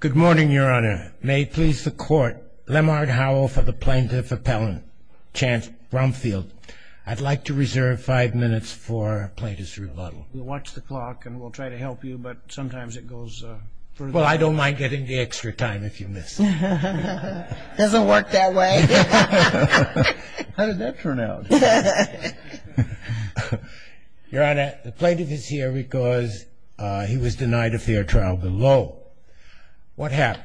Good morning, Your Honor. May it please the Court, Lemar Howell for the Plaintiff Appellant, Chance Brumfield. I'd like to reserve five minutes for Plaintiff's rebuttal. We'll watch the clock and we'll try to help you, but sometimes it goes... Well, I don't mind getting the extra time if you miss. Doesn't work that way. How did that turn out? Your Honor, the Plaintiff is here because he was denied a fair trial below. What happened?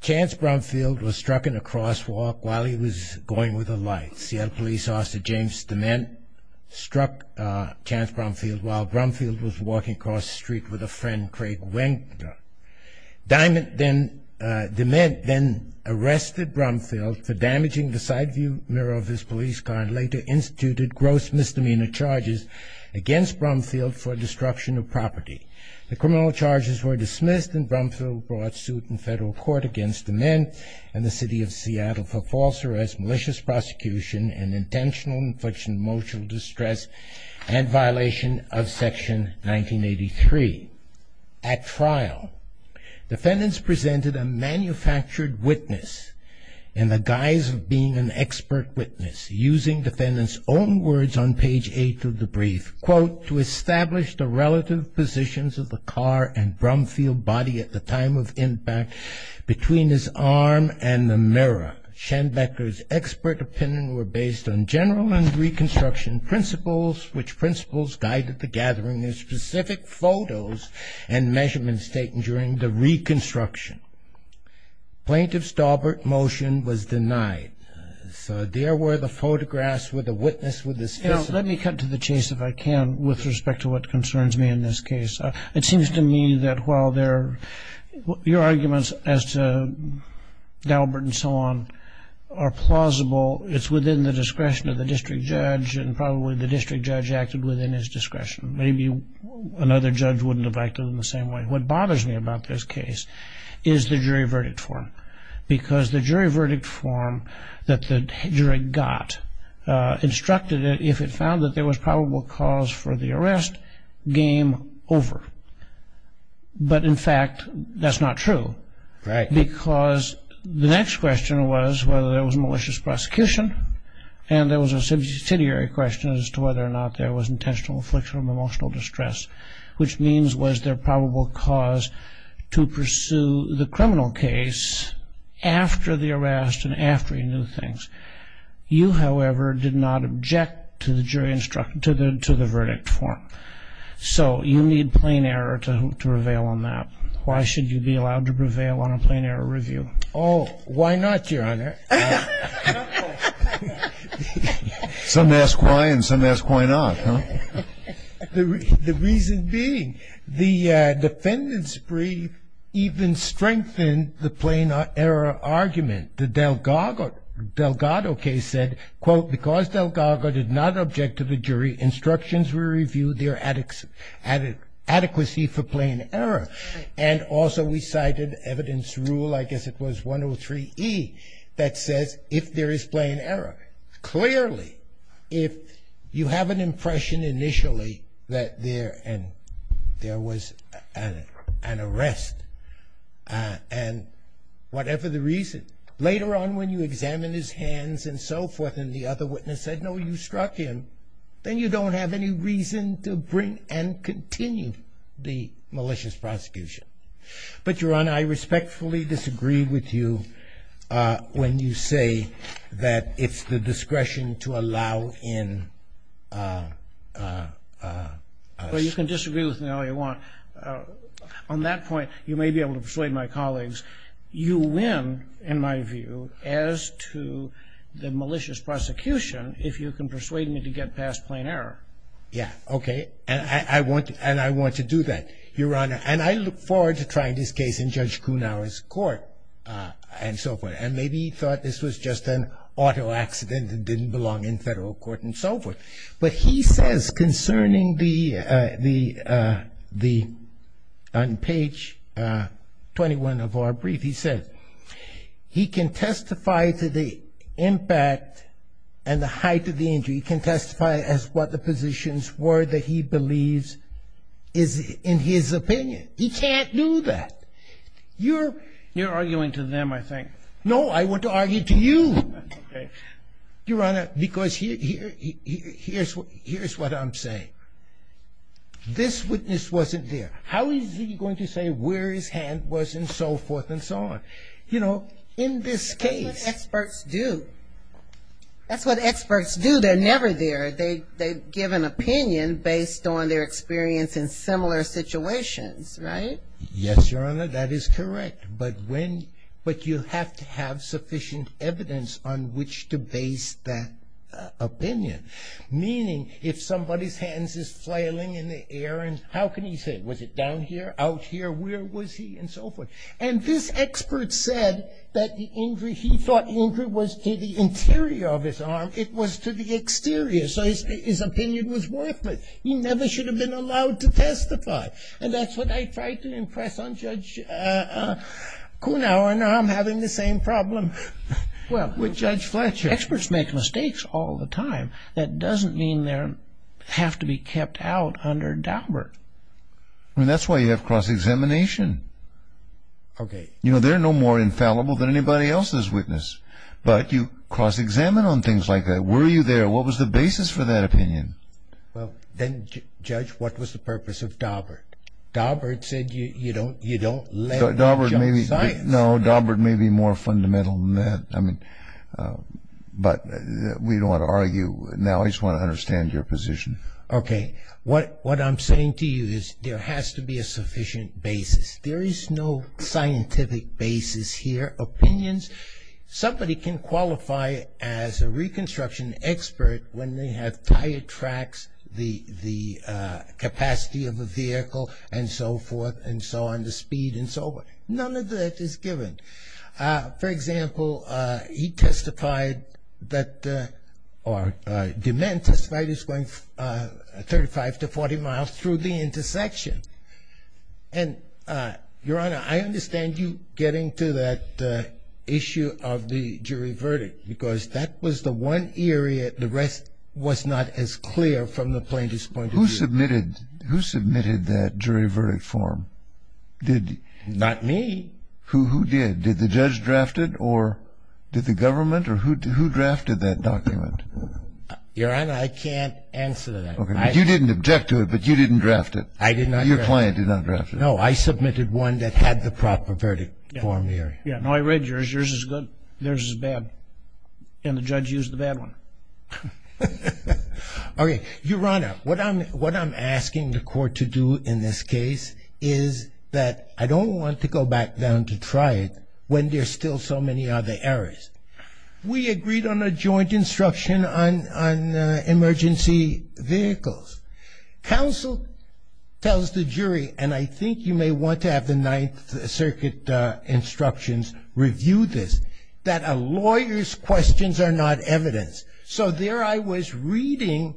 Chance Brumfield was struck in a crosswalk while he was going with the lights. Seattle Police Officer James Dement struck Chance Brumfield while Brumfield was walking across the street with a friend, Craig Wenger. Dement then arrested Brumfield for damaging the side view mirror of his police car and later instituted gross misdemeanor charges against Brumfield for destruction of property. The criminal charges were dismissed and Brumfield brought suit in federal court against Dement and the City Of Seattle for false arrest, malicious prosecution, and intentional and frictional emotional distress and violation of Section 1983. At trial, defendants presented a manufactured witness in the guise of being an expert witness, using defendants' own words on page 8 of the brief, quote, to establish the relative positions of the car and Brumfield body at the time of impact between his arm and the mirror. Schenbecker's expert opinion were based on general and reconstruction principles, which principles guided the gathering of specific photos and measurements taken during the reconstruction. Plaintiff's Daubert motion was denied. So there were the photographs with the witness with the specific. Let me cut to the chase if I can with respect to what concerns me in this case. It seems to me that while your arguments as to Daubert and so on are plausible, it's within the discretion of the district judge and probably the district judge acted within his discretion. Maybe another judge wouldn't have acted in the same way. What bothers me about this case is the jury verdict form, because the jury verdict form that the jury got instructed that if it found that there was probable cause for the arrest, game over. But in fact, that's not true. Right. Because the next question was whether there was malicious prosecution. And there was a subsidiary question as to whether or not there was intentional affliction of emotional distress, which means was there probable cause to pursue the criminal case after the arrest and after he knew things. You, however, did not object to the jury instruct to the to the verdict form. So you need plain error to prevail on that. Why should you be allowed to prevail on a plain error review? Oh, why not, Your Honor? Some ask why and some ask why not. The reason being the defendant's brief even strengthened the plain error argument. The Delgado case said, quote, because Delgado did not object to the jury instructions, we reviewed their adequacy for plain error. And also we cited evidence rule, I guess it was 103E, that says if there is plain error. Clearly, if you have an impression initially that there was an arrest and whatever the reason, later on when you examine his hands and so forth and the other witness said, no, you struck him, then you don't have any reason to bring and continue the malicious prosecution. But, Your Honor, I respectfully disagree with you when you say that it's the discretion to allow in. Well, you can disagree with me all you want. On that point, you may be able to persuade my colleagues. You win, in my view, as to the malicious prosecution if you can persuade me to get past plain error. Yeah, okay. And I want to do that, Your Honor. And I look forward to trying this case in Judge Kuhnauer's court and so forth. And maybe he thought this was just an auto accident that didn't belong in federal court and so forth. But he says concerning the, on page 21 of our brief, he says, he can testify to the impact and the height of the injury. He can testify as what the positions were that he believes is in his opinion. He can't do that. You're arguing to them, I think. No, I want to argue to you. Okay. Your Honor, because here's what I'm saying. This witness wasn't there. How is he going to say where his hand was and so forth and so on? You know, in this case. That's what experts do. That's what experts do. They're never there. They give an opinion based on their experience in similar situations, right? Yes, Your Honor, that is correct. But you have to have sufficient evidence on which to base that opinion. Meaning, if somebody's hand is flailing in the air, how can he say, was it down here, out here, where was he, and so forth? And this expert said that the injury, he thought the injury was to the interior of his arm. It was to the exterior. So his opinion was worthless. He never should have been allowed to testify. And that's what I tried to impress on Judge Kuhnhauer, and now I'm having the same problem with Judge Fletcher. Experts make mistakes all the time. That doesn't mean they have to be kept out under Daubert. I mean, that's why you have cross-examination. Okay. You know, they're no more infallible than anybody else's witness. But you cross-examine on things like that. Were you there? What was the basis for that opinion? Well, then, Judge, what was the purpose of Daubert? Daubert said you don't let them jump science. No, Daubert may be more fundamental than that. I mean, but we don't want to argue. Now I just want to understand your position. Okay. What I'm saying to you is there has to be a sufficient basis. There is no scientific basis here. Somebody can qualify as a reconstruction expert when they have tired tracks, the capacity of a vehicle, and so forth, and so on, the speed and so forth. None of that is given. For example, he testified that the man testified is going 35 to 40 miles through the intersection. And, Your Honor, I understand you getting to that issue of the jury verdict, because that was the one area the rest was not as clear from the plaintiff's point of view. Who submitted that jury verdict form? Not me. Who did? Did the judge draft it, or did the government, or who drafted that document? Your Honor, I can't answer that. You didn't object to it, but you didn't draft it. I did not draft it. Your client did not draft it. No, I submitted one that had the proper verdict form there. Yeah. No, I read yours. Yours is good. Theirs is bad. And the judge used the bad one. Okay. Your Honor, what I'm asking the court to do in this case is that I don't want to go back down to try it when there's still so many other errors. We agreed on a joint instruction on emergency vehicles. Counsel tells the jury, and I think you may want to have the Ninth Circuit instructions review this, that a lawyer's questions are not evidence. So there I was reading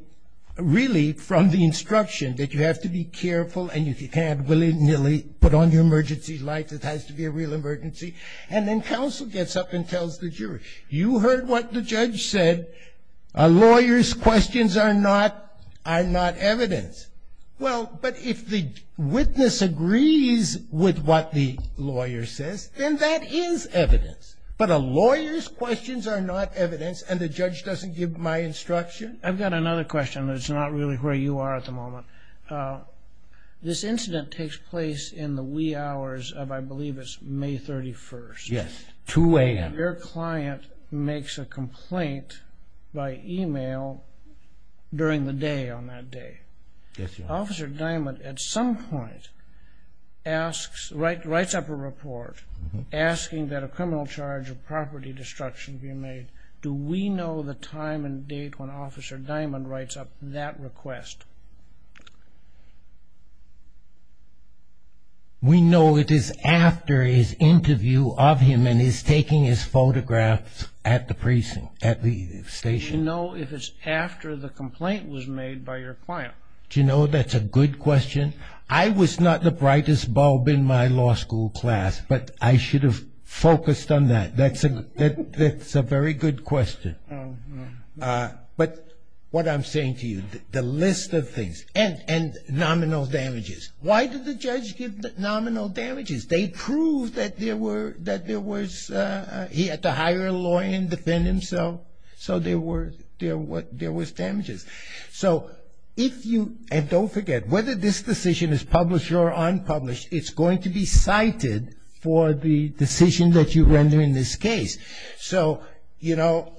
really from the instruction that you have to be careful, and if you can't, willy-nilly, put on your emergency lights. It has to be a real emergency. And then counsel gets up and tells the jury, you heard what the judge said, a lawyer's questions are not evidence. Well, but if the witness agrees with what the lawyer says, then that is evidence. But a lawyer's questions are not evidence, and the judge doesn't give my instruction? I've got another question, but it's not really where you are at the moment. This incident takes place in the wee hours of I believe it's May 31st. Yes, 2 a.m. Your client makes a complaint by e-mail during the day on that day. Yes, Your Honor. Officer Diamond at some point writes up a report asking that a criminal charge of property destruction be made. Do we know the time and date when Officer Diamond writes up that request? We know it is after his interview of him and he's taking his photograph at the precinct, at the station. Do you know if it's after the complaint was made by your client? Do you know that's a good question? I was not the brightest bulb in my law school class, but I should have focused on that. That's a very good question. But what I'm saying to you, the list of things, and nominal damages. Why did the judge give nominal damages? They proved that there was, he had to hire a lawyer and defend himself, so there was damages. So if you, and don't forget, whether this decision is published or unpublished, it's going to be cited for the decision that you render in this case. So, you know,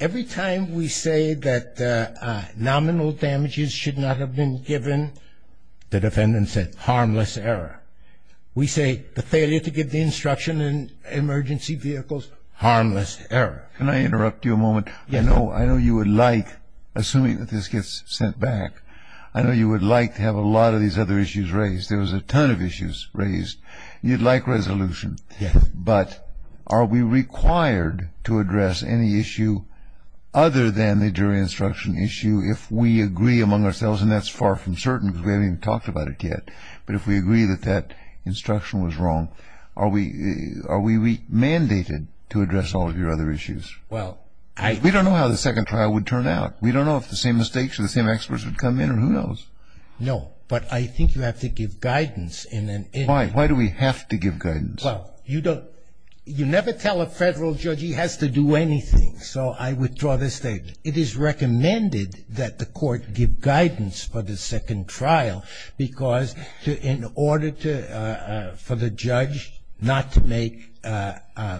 every time we say that nominal damages should not have been given, the defendant said, harmless error. We say the failure to give the instruction in emergency vehicles, harmless error. Can I interrupt you a moment? Yes. I know you would like, assuming that this gets sent back, I know you would like to have a lot of these other issues raised. There was a ton of issues raised. You'd like resolution. Yes. But are we required to address any issue other than the jury instruction issue if we agree among ourselves, and that's far from certain because we haven't even talked about it yet, but if we agree that that instruction was wrong, are we mandated to address all of your other issues? Well, I... Because we don't know how the second trial would turn out. We don't know if the same mistakes or the same experts would come in or who knows. No, but I think you have to give guidance in an... Why? Why do we have to give guidance? Well, you don't... You never tell a federal judge he has to do anything. So I withdraw this statement. It is recommended that the court give guidance for the second trial because in order to... for the judge not to make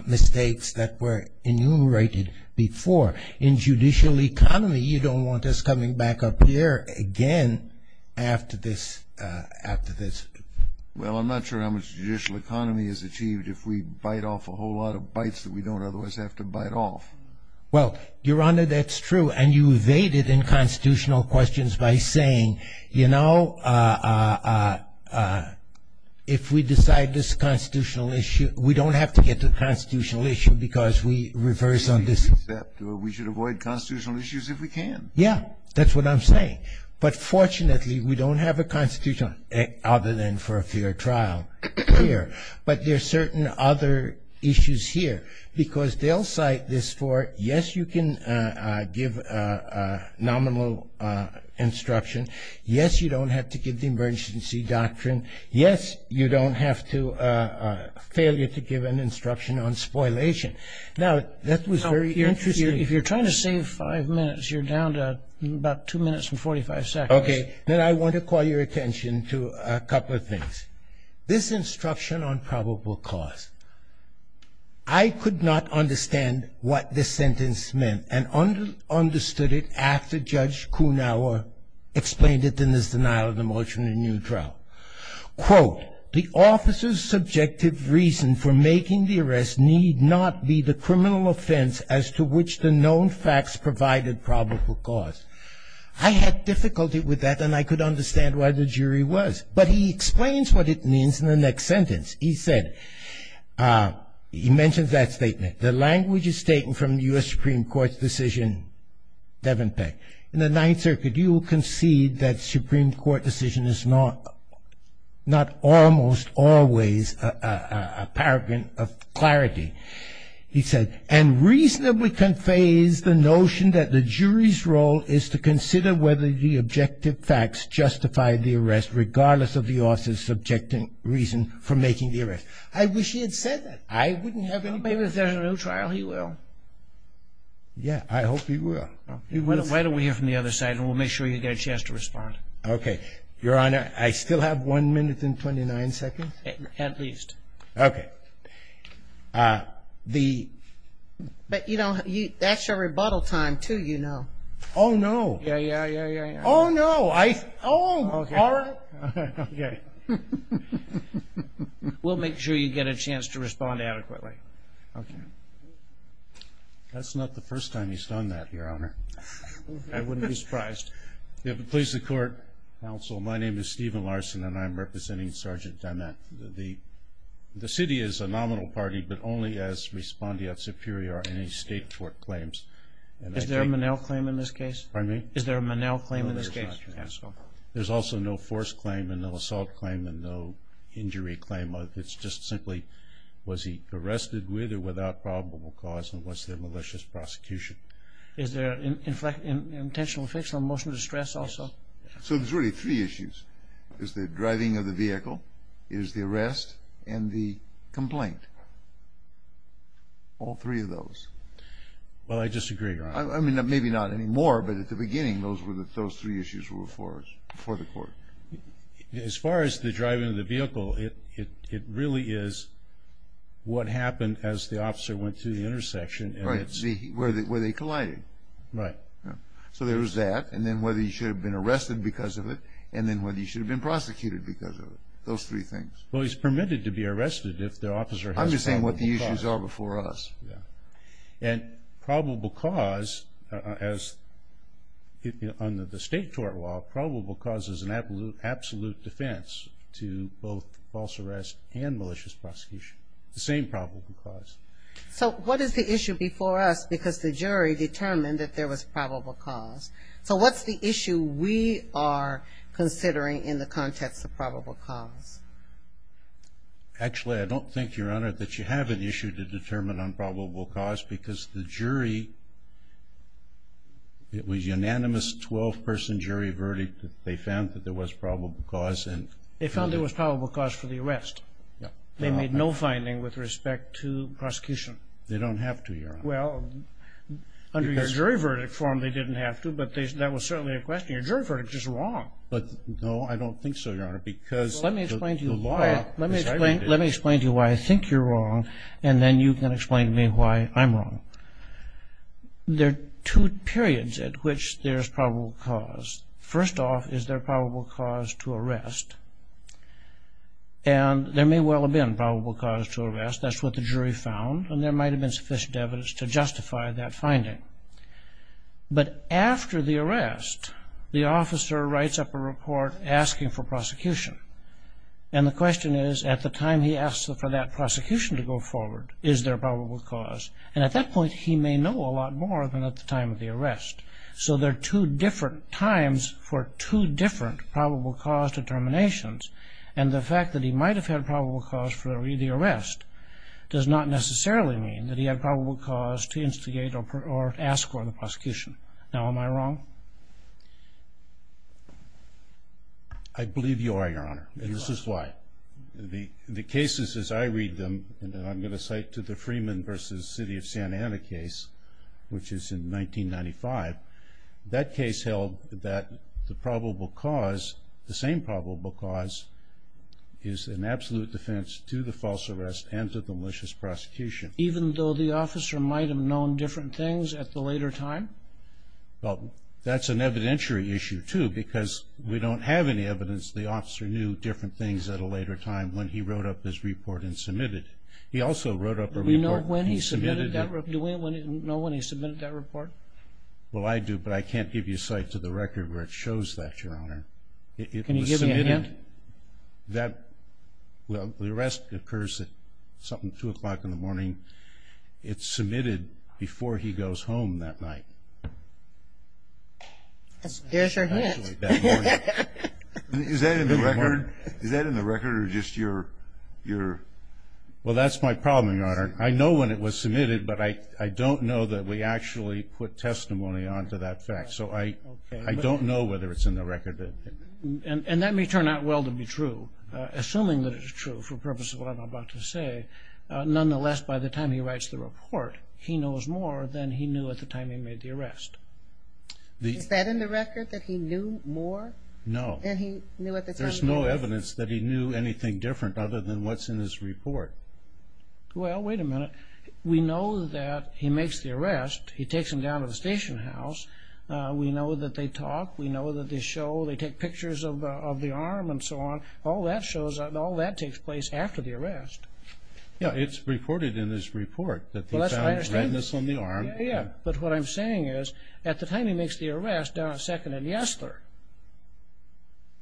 mistakes that were enumerated before. In judicial economy, you don't want us coming back up here again after this... Well, I'm not sure how much judicial economy is achieved if we bite off a whole lot of bites that we don't otherwise have to bite off. Well, Your Honor, that's true, and you evaded in constitutional questions by saying, you know, if we decide this constitutional issue, we don't have to get to the constitutional issue because we reverse on this... We should avoid constitutional issues if we can. Yeah, that's what I'm saying. But fortunately, we don't have a constitutional other than for a fair trial here. But there are certain other issues here because they'll cite this for, yes, you can give nominal instruction. Yes, you don't have to give the emergency doctrine. Yes, you don't have to...failure to give an instruction on spoilation. Now, that was very interesting. If you're trying to save five minutes, you're down to about two minutes and 45 seconds. Okay. Then I want to call your attention to a couple of things. This instruction on probable cause, I could not understand what this sentence meant and understood it after Judge Kuhnauer explained it in his denial of the motion in New Drought. Quote, the officer's subjective reason for making the arrest need not be the criminal offense as to which the known facts provided probable cause. I had difficulty with that and I could understand why the jury was. But he explains what it means in the next sentence. He said, he mentions that statement, the language is taken from the U.S. Supreme Court's decision, Devenpeck, in the Ninth Circuit you concede that Supreme Court decision is not almost always a paragraph of clarity. He said, and reasonably conveys the notion that the jury's role is to consider whether the objective facts justify the arrest regardless of the officer's subjective reason for making the arrest. I wish he had said that. I wouldn't have any problem. Maybe if there's a new trial he will. Yeah, I hope he will. Why don't we hear from the other side and we'll make sure you get a chance to respond. Okay. Your Honor, I still have one minute and 29 seconds? At least. Okay. But, you know, that's your rebuttal time, too, you know. Oh, no. Yeah, yeah, yeah, yeah. Oh, no. Oh, all right. Okay. We'll make sure you get a chance to respond adequately. Okay. That's not the first time he's done that, Your Honor. I wouldn't be surprised. Please support counsel. Well, my name is Stephen Larson, and I'm representing Sergeant Dimath. The city is a nominal party, but only as respondeat superior are any state court claims. Is there a Monell claim in this case? Pardon me? Is there a Monell claim in this case? No, there's not, Your Honor. There's also no force claim and no assault claim and no injury claim. It's just simply was he arrested with or without probable cause and was there malicious prosecution? Is there an intentional or fictional motion of distress also? So there's really three issues. It's the driving of the vehicle, it is the arrest, and the complaint. All three of those. Well, I disagree, Your Honor. I mean, maybe not anymore, but at the beginning those three issues were before the court. As far as the driving of the vehicle, it really is what happened as the officer went to the intersection. Right, where they collided. Right. So there was that, and then whether he should have been arrested because of it, and then whether he should have been prosecuted because of it. Those three things. Well, he's permitted to be arrested if the officer has probable cause. I'm just saying what the issues are before us. Yeah. And probable cause, as under the state court law, probable cause is an absolute defense to both false arrest and malicious prosecution. The same probable cause. So what is the issue before us? Because the jury determined that there was probable cause. So what's the issue we are considering in the context of probable cause? Actually, I don't think, Your Honor, that you have an issue to determine on probable cause because the jury, it was unanimous 12-person jury verdict. They found that there was probable cause. They found there was probable cause for the arrest. They made no finding with respect to prosecution. They don't have to, Your Honor. Well, under your jury verdict form, they didn't have to, but that was certainly a question. Your jury verdict is wrong. But, no, I don't think so, Your Honor, because the law decided it. Let me explain to you why I think you're wrong, and then you can explain to me why I'm wrong. There are two periods at which there's probable cause. First off is there probable cause to arrest. And there may well have been probable cause to arrest. That's what the jury found, and there might have been sufficient evidence to justify that finding. But after the arrest, the officer writes up a report asking for prosecution. And the question is, at the time he asks for that prosecution to go forward, is there probable cause? And at that point, he may know a lot more than at the time of the arrest. So there are two different times for two different probable cause determinations, and the fact that he might have had probable cause for the arrest does not necessarily mean that he had probable cause to instigate or ask for the prosecution. Now, am I wrong? I believe you are, Your Honor, and this is why. The cases as I read them, and I'm going to cite to the Freeman v. City of Santa Ana case, which is in 1995, that case held that the probable cause, the same probable cause, is an absolute defense to the false arrest and to the malicious prosecution. Even though the officer might have known different things at the later time? Well, that's an evidentiary issue, too, because we don't have any evidence the officer knew different things at a later time when he wrote up his report and submitted it. He also wrote up a report. Do we know when he submitted that report? Well, I do, but I can't give you a cite to the record where it shows that, Your Honor. Can you give me a hint? Well, the arrest occurs at something like 2 o'clock in the morning. It's submitted before he goes home that night. Here's your hint. Is that in the record? Is that in the record or just your? Well, that's my problem, Your Honor. I know when it was submitted, but I don't know that we actually put testimony onto that fact. So I don't know whether it's in the record. And that may turn out well to be true, assuming that it is true for the purpose of what I'm about to say. Nonetheless, by the time he writes the report, he knows more than he knew at the time he made the arrest. Is that in the record, that he knew more than he knew at the time? There's no evidence that he knew anything different other than what's in his report. Well, wait a minute. We know that he makes the arrest. He takes him down to the station house. We know that they talk. We know that they show. They take pictures of the arm and so on. All that takes place after the arrest. Yeah, it's reported in his report that he found redness on the arm. Yeah, yeah. But what I'm saying is, at the time he makes the arrest, down at 2nd and Yesler,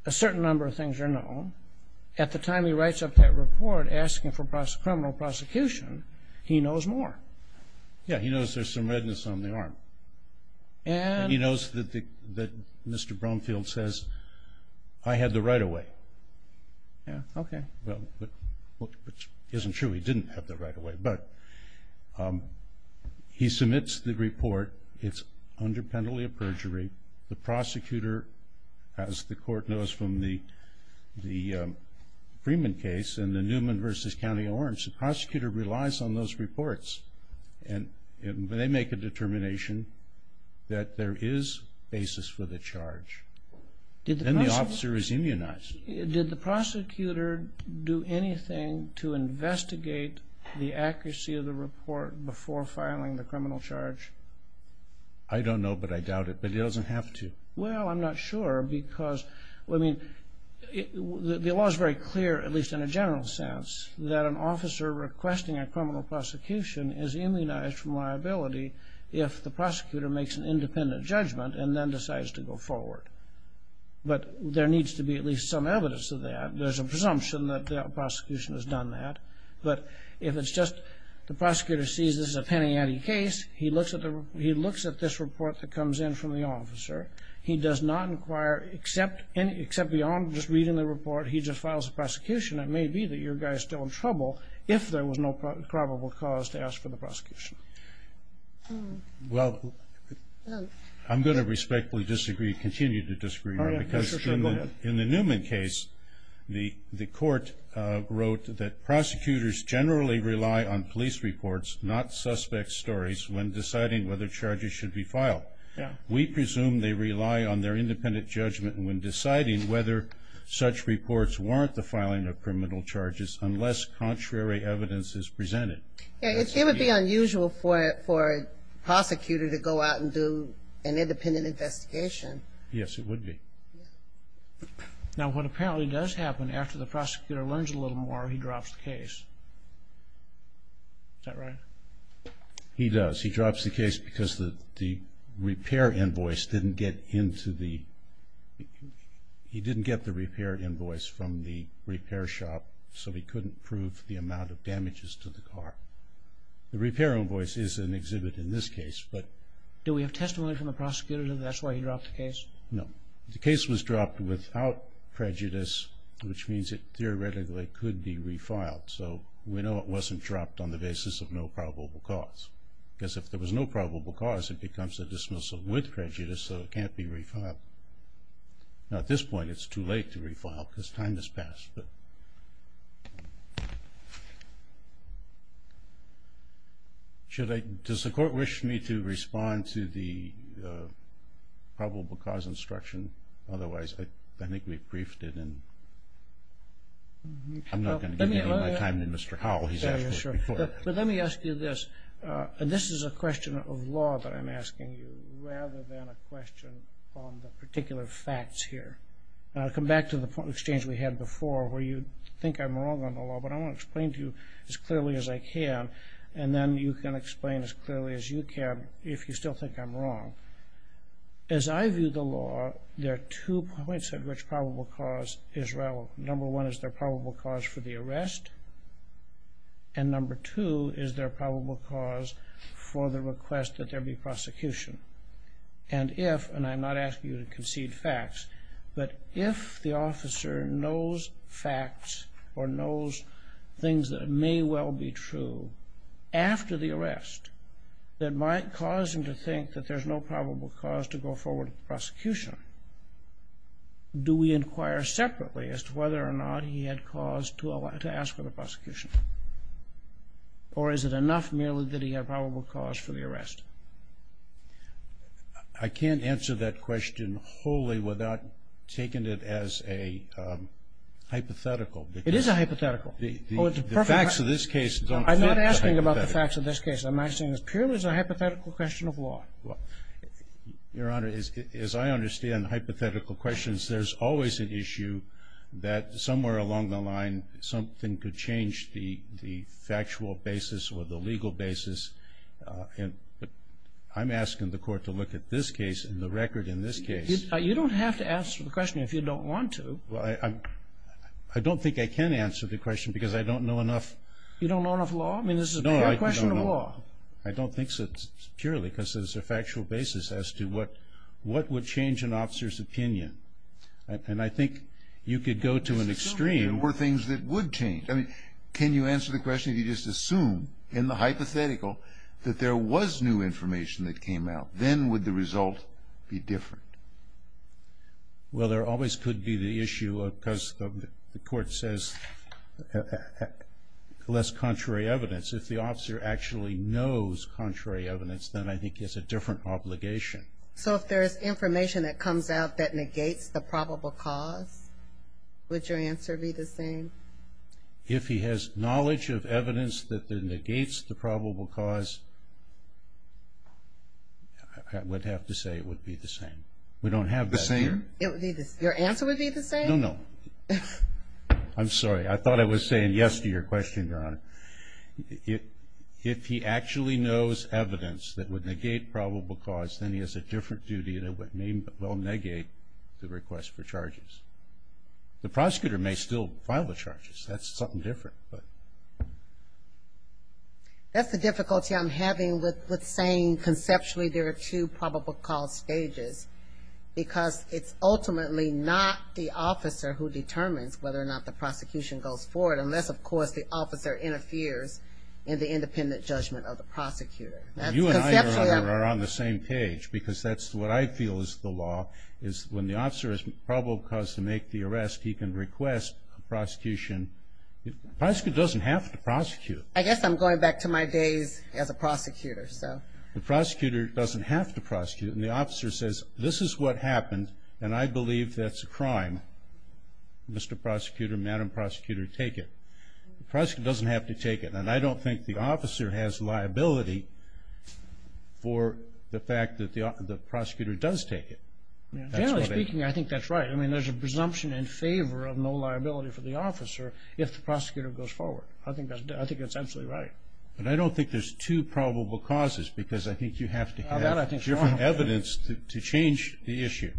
a certain number of things are known. At the time he writes up that report asking for criminal prosecution, he knows more. Yeah, he knows there's some redness on the arm. He knows that Mr. Bromfield says, I had the right of way. Yeah, okay. Well, which isn't true. He didn't have the right of way. But he submits the report. It's under penalty of perjury. The prosecutor, as the court knows from the Freeman case and the Newman v. County Orange, the prosecutor relies on those reports. And they make a determination that there is basis for the charge. Then the officer is immunized. Did the prosecutor do anything to investigate the accuracy of the report before filing the criminal charge? I don't know, but I doubt it. But he doesn't have to. Well, I'm not sure because, I mean, the law is very clear, at least in a general sense, that an officer requesting a criminal prosecution is immunized from liability if the prosecutor makes an independent judgment and then decides to go forward. But there needs to be at least some evidence of that. There's a presumption that the prosecution has done that. But if it's just the prosecutor sees this is a penny ante case, he looks at this report that comes in from the officer. He does not inquire, except beyond just reading the report, he just files a prosecution. It may be that your guy is still in trouble if there was no probable cause to ask for the prosecution. Well, I'm going to respectfully disagree, continue to disagree. Because in the Newman case, the court wrote that prosecutors generally rely on police reports, not suspect stories, when deciding whether charges should be filed. We presume they rely on their independent judgment when deciding whether such reports warrant the filing of criminal charges unless contrary evidence is presented. It would be unusual for a prosecutor to go out and do an independent investigation. Yes, it would be. Now, what apparently does happen after the prosecutor learns a little more, he drops the case. Is that right? He does. He drops the case because the repair invoice didn't get into the... He didn't get the repair invoice from the repair shop, so he couldn't prove the amount of damages to the car. The repair invoice is an exhibit in this case, but... Do we have testimony from the prosecutor that that's why he dropped the case? No. The case was dropped without prejudice, which means it theoretically could be refiled. So we know it wasn't dropped on the basis of no probable cause. Because if there was no probable cause, it becomes a dismissal with prejudice, so it can't be refiled. Now, at this point, it's too late to refile because time has passed, but... Does the court wish me to respond to the probable cause instruction? Otherwise, I think we've briefed it, and... I'm not going to give you any more time than Mr. Howell. But let me ask you this, and this is a question of law that I'm asking you, rather than a question on the particular facts here. I'll come back to the exchange we had before, where you think I'm wrong on the law, but I want to explain to you as clearly as I can, and then you can explain as clearly as you can if you still think I'm wrong. As I view the law, there are two points at which probable cause is relevant. Number one is there probable cause for the arrest, and number two is there probable cause for the request that there be prosecution. And if, and I'm not asking you to concede facts, but if the officer knows facts or knows things that may well be true after the arrest that might cause him to think that there's no probable cause to go forward with the prosecution, do we inquire separately as to whether or not he had cause to ask for the prosecution? Or is it enough merely that he had probable cause for the arrest? I can't answer that question wholly without taking it as a hypothetical. It is a hypothetical. The facts of this case don't... I'm not asking about the facts of this case. I'm asking this purely as a hypothetical question of law. Your Honor, as I understand hypothetical questions, there's always an issue that somewhere along the line something could change the factual basis or the legal basis. I'm asking the Court to look at this case and the record in this case. You don't have to answer the question if you don't want to. I don't think I can answer the question because I don't know enough... You don't know enough law? I mean, this is a pure question of law. I don't think so. It's purely because there's a factual basis as to what would change an officer's opinion. And I think you could go to an extreme. Assuming there were things that would change. I mean, can you answer the question if you just assume in the hypothetical that there was new information that came out? Then would the result be different? Well, there always could be the issue because the Court says less contrary evidence. If the officer actually knows contrary evidence, then I think it's a different obligation. So if there is information that comes out that negates the probable cause, would your answer be the same? If he has knowledge of evidence that negates the probable cause, I would have to say it would be the same. We don't have that here. The same? Your answer would be the same? No, no. I'm sorry. I thought I was saying yes to your question, Your Honor. If he actually knows evidence that would negate probable cause, then he has a different duty that would negate the request for charges. The prosecutor may still file the charges. That's something different. That's the difficulty I'm having with saying conceptually there are two probable cause stages because it's ultimately not the officer who determines whether or not the prosecution goes forward unless, of course, the officer interferes in the independent judgment of the prosecutor. You and I, Your Honor, are on the same page because that's what I feel is the law, is when the officer has probable cause to make the arrest, he can request prosecution. The prosecutor doesn't have to prosecute. I guess I'm going back to my days as a prosecutor. The prosecutor doesn't have to prosecute. And the officer says, this is what happened, and I believe that's a crime. Mr. Prosecutor, Madam Prosecutor, take it. The prosecutor doesn't have to take it, and I don't think the officer has liability for the fact that the prosecutor does take it. Generally speaking, I think that's right. I mean, there's a presumption in favor of no liability for the officer if the prosecutor goes forward. I think that's absolutely right. But I don't think there's two probable causes because I think you have to have different evidence. You have to have evidence to change the issue,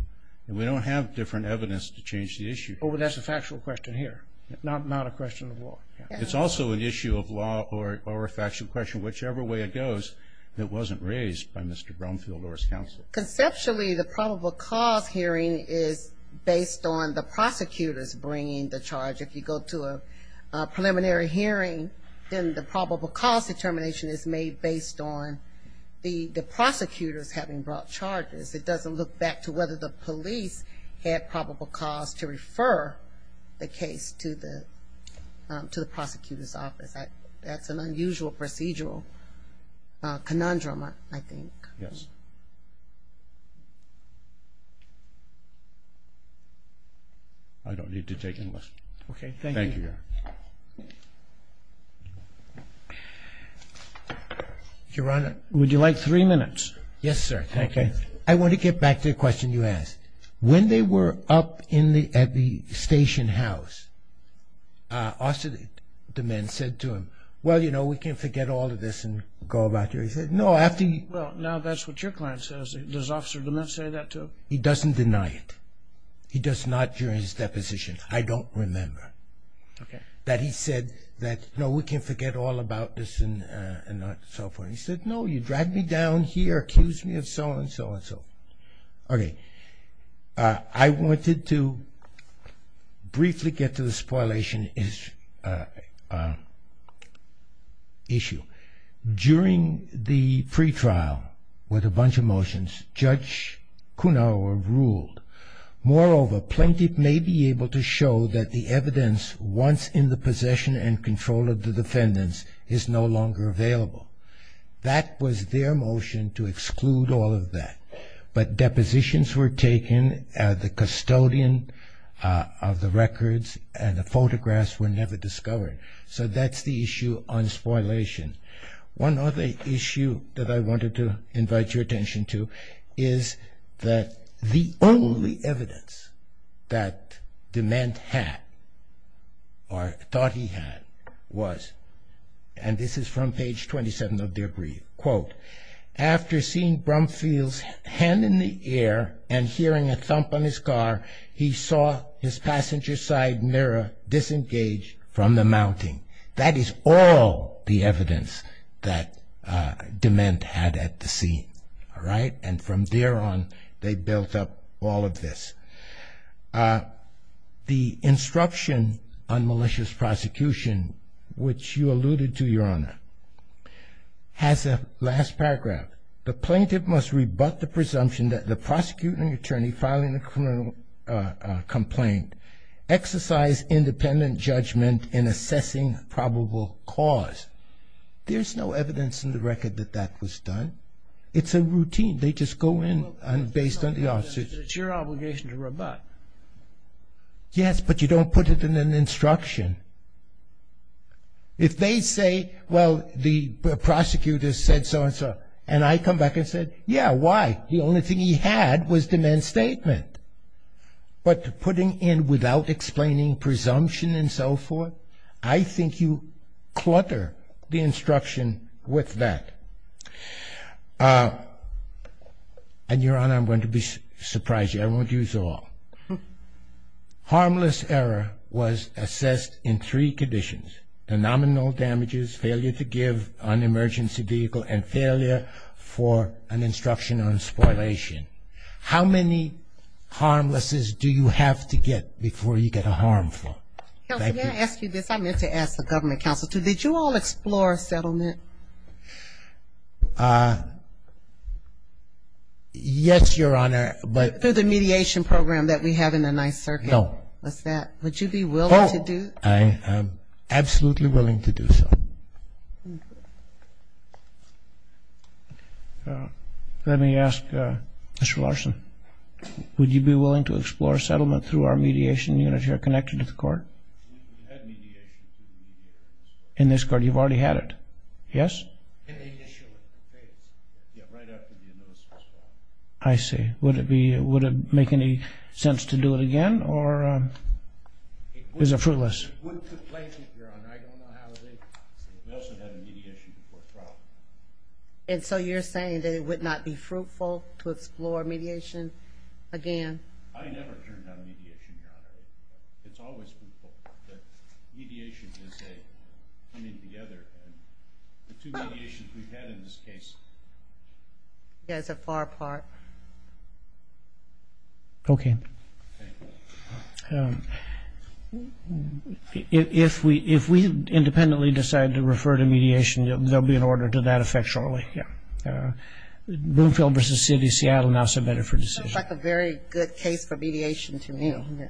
and we don't have different evidence to change the issue. But that's a factual question here, not a question of law. It's also an issue of law or a factual question, whichever way it goes that wasn't raised by Mr. Brumfield or his counsel. Conceptually, the probable cause hearing is based on the prosecutors bringing the charge. If you go to a preliminary hearing, then the probable cause determination is made based on the prosecutors having brought charges. It doesn't look back to whether the police had probable cause to refer the case to the prosecutor's office. That's an unusual procedural conundrum, I think. Yes. I don't need to take any questions. Okay, thank you. Thank you. Your Honor. Would you like three minutes? Yes, sir. Thank you. I want to get back to the question you asked. When they were up at the station house, Officer DeMint said to him, well, you know, we can forget all of this and go back to it. He said, no. Well, now that's what your client says. Does Officer DeMint say that to him? He doesn't deny it. He does not during his deposition. I don't remember that he said that, no, we can forget all about this and so forth. He said, no, you dragged me down here, accused me of so and so and so. Okay. I wanted to briefly get to the spoilation issue. During the pretrial with a bunch of motions, Judge Kuhnhauer ruled, Moreover, plaintiff may be able to show that the evidence once in the possession and control of the defendants is no longer available. That was their motion to exclude all of that. But depositions were taken, the custodian of the records and the photographs were never discovered. So that's the issue on spoilation. One other issue that I wanted to invite your attention to is that the only evidence that DeMint had or thought he had was, and this is from page 27 of Debris, quote, after seeing Brumfield's hand in the air and hearing a thump on his car, he saw his passenger side mirror disengage from the mounting. That is all the evidence that DeMint had at the scene. All right. And from there on, they built up all of this. The instruction on malicious prosecution, which you alluded to, Your Honor, has a last paragraph. The plaintiff must rebut the presumption that the prosecuting attorney filing a criminal complaint exercised independent judgment in assessing probable cause. There's no evidence in the record that that was done. It's a routine. They just go in based on the officers. It's your obligation to rebut. Yes, but you don't put it in an instruction. If they say, well, the prosecutor said so and so, and I come back and said, yeah, why? The only thing he had was DeMint's statement. But putting in without explaining presumption and so forth, I think you clutter the instruction with that. And, Your Honor, I'm going to surprise you. I won't use all. Harmless error was assessed in three conditions, the nominal damages, failure to give on emergency vehicle, and failure for an instruction on spoliation. How many harmlesses do you have to get before you get a harmful? Counsel, may I ask you this? I meant to ask the government counsel, too. Did you all explore settlement? Yes, Your Honor, but. Through the mediation program that we have in the Ninth Circuit. No. Was that? Would you be willing to do? Oh, I am absolutely willing to do so. Let me ask Mr. Larson. Would you be willing to explore settlement through our mediation unit here connected to the court? We had mediation through the mediators. In this court? You've already had it? Yes? In the initial phase. Yeah, right after the annulment was filed. I see. Would it make any sense to do it again? Or is it fruitless? We also had a mediation before trial. And so you're saying that it would not be fruitful to explore mediation again? I never turned down mediation, Your Honor. It's always fruitful. Mediation is a coming together, and the two mediations we've had in this case. Yeah, it's a far apart. Okay. If we independently decide to refer to mediation, there will be an order to that effect shortly. Yeah. Bloomfield v. City of Seattle now so better for decision. Sounds like a very good case for mediation to me. Yeah.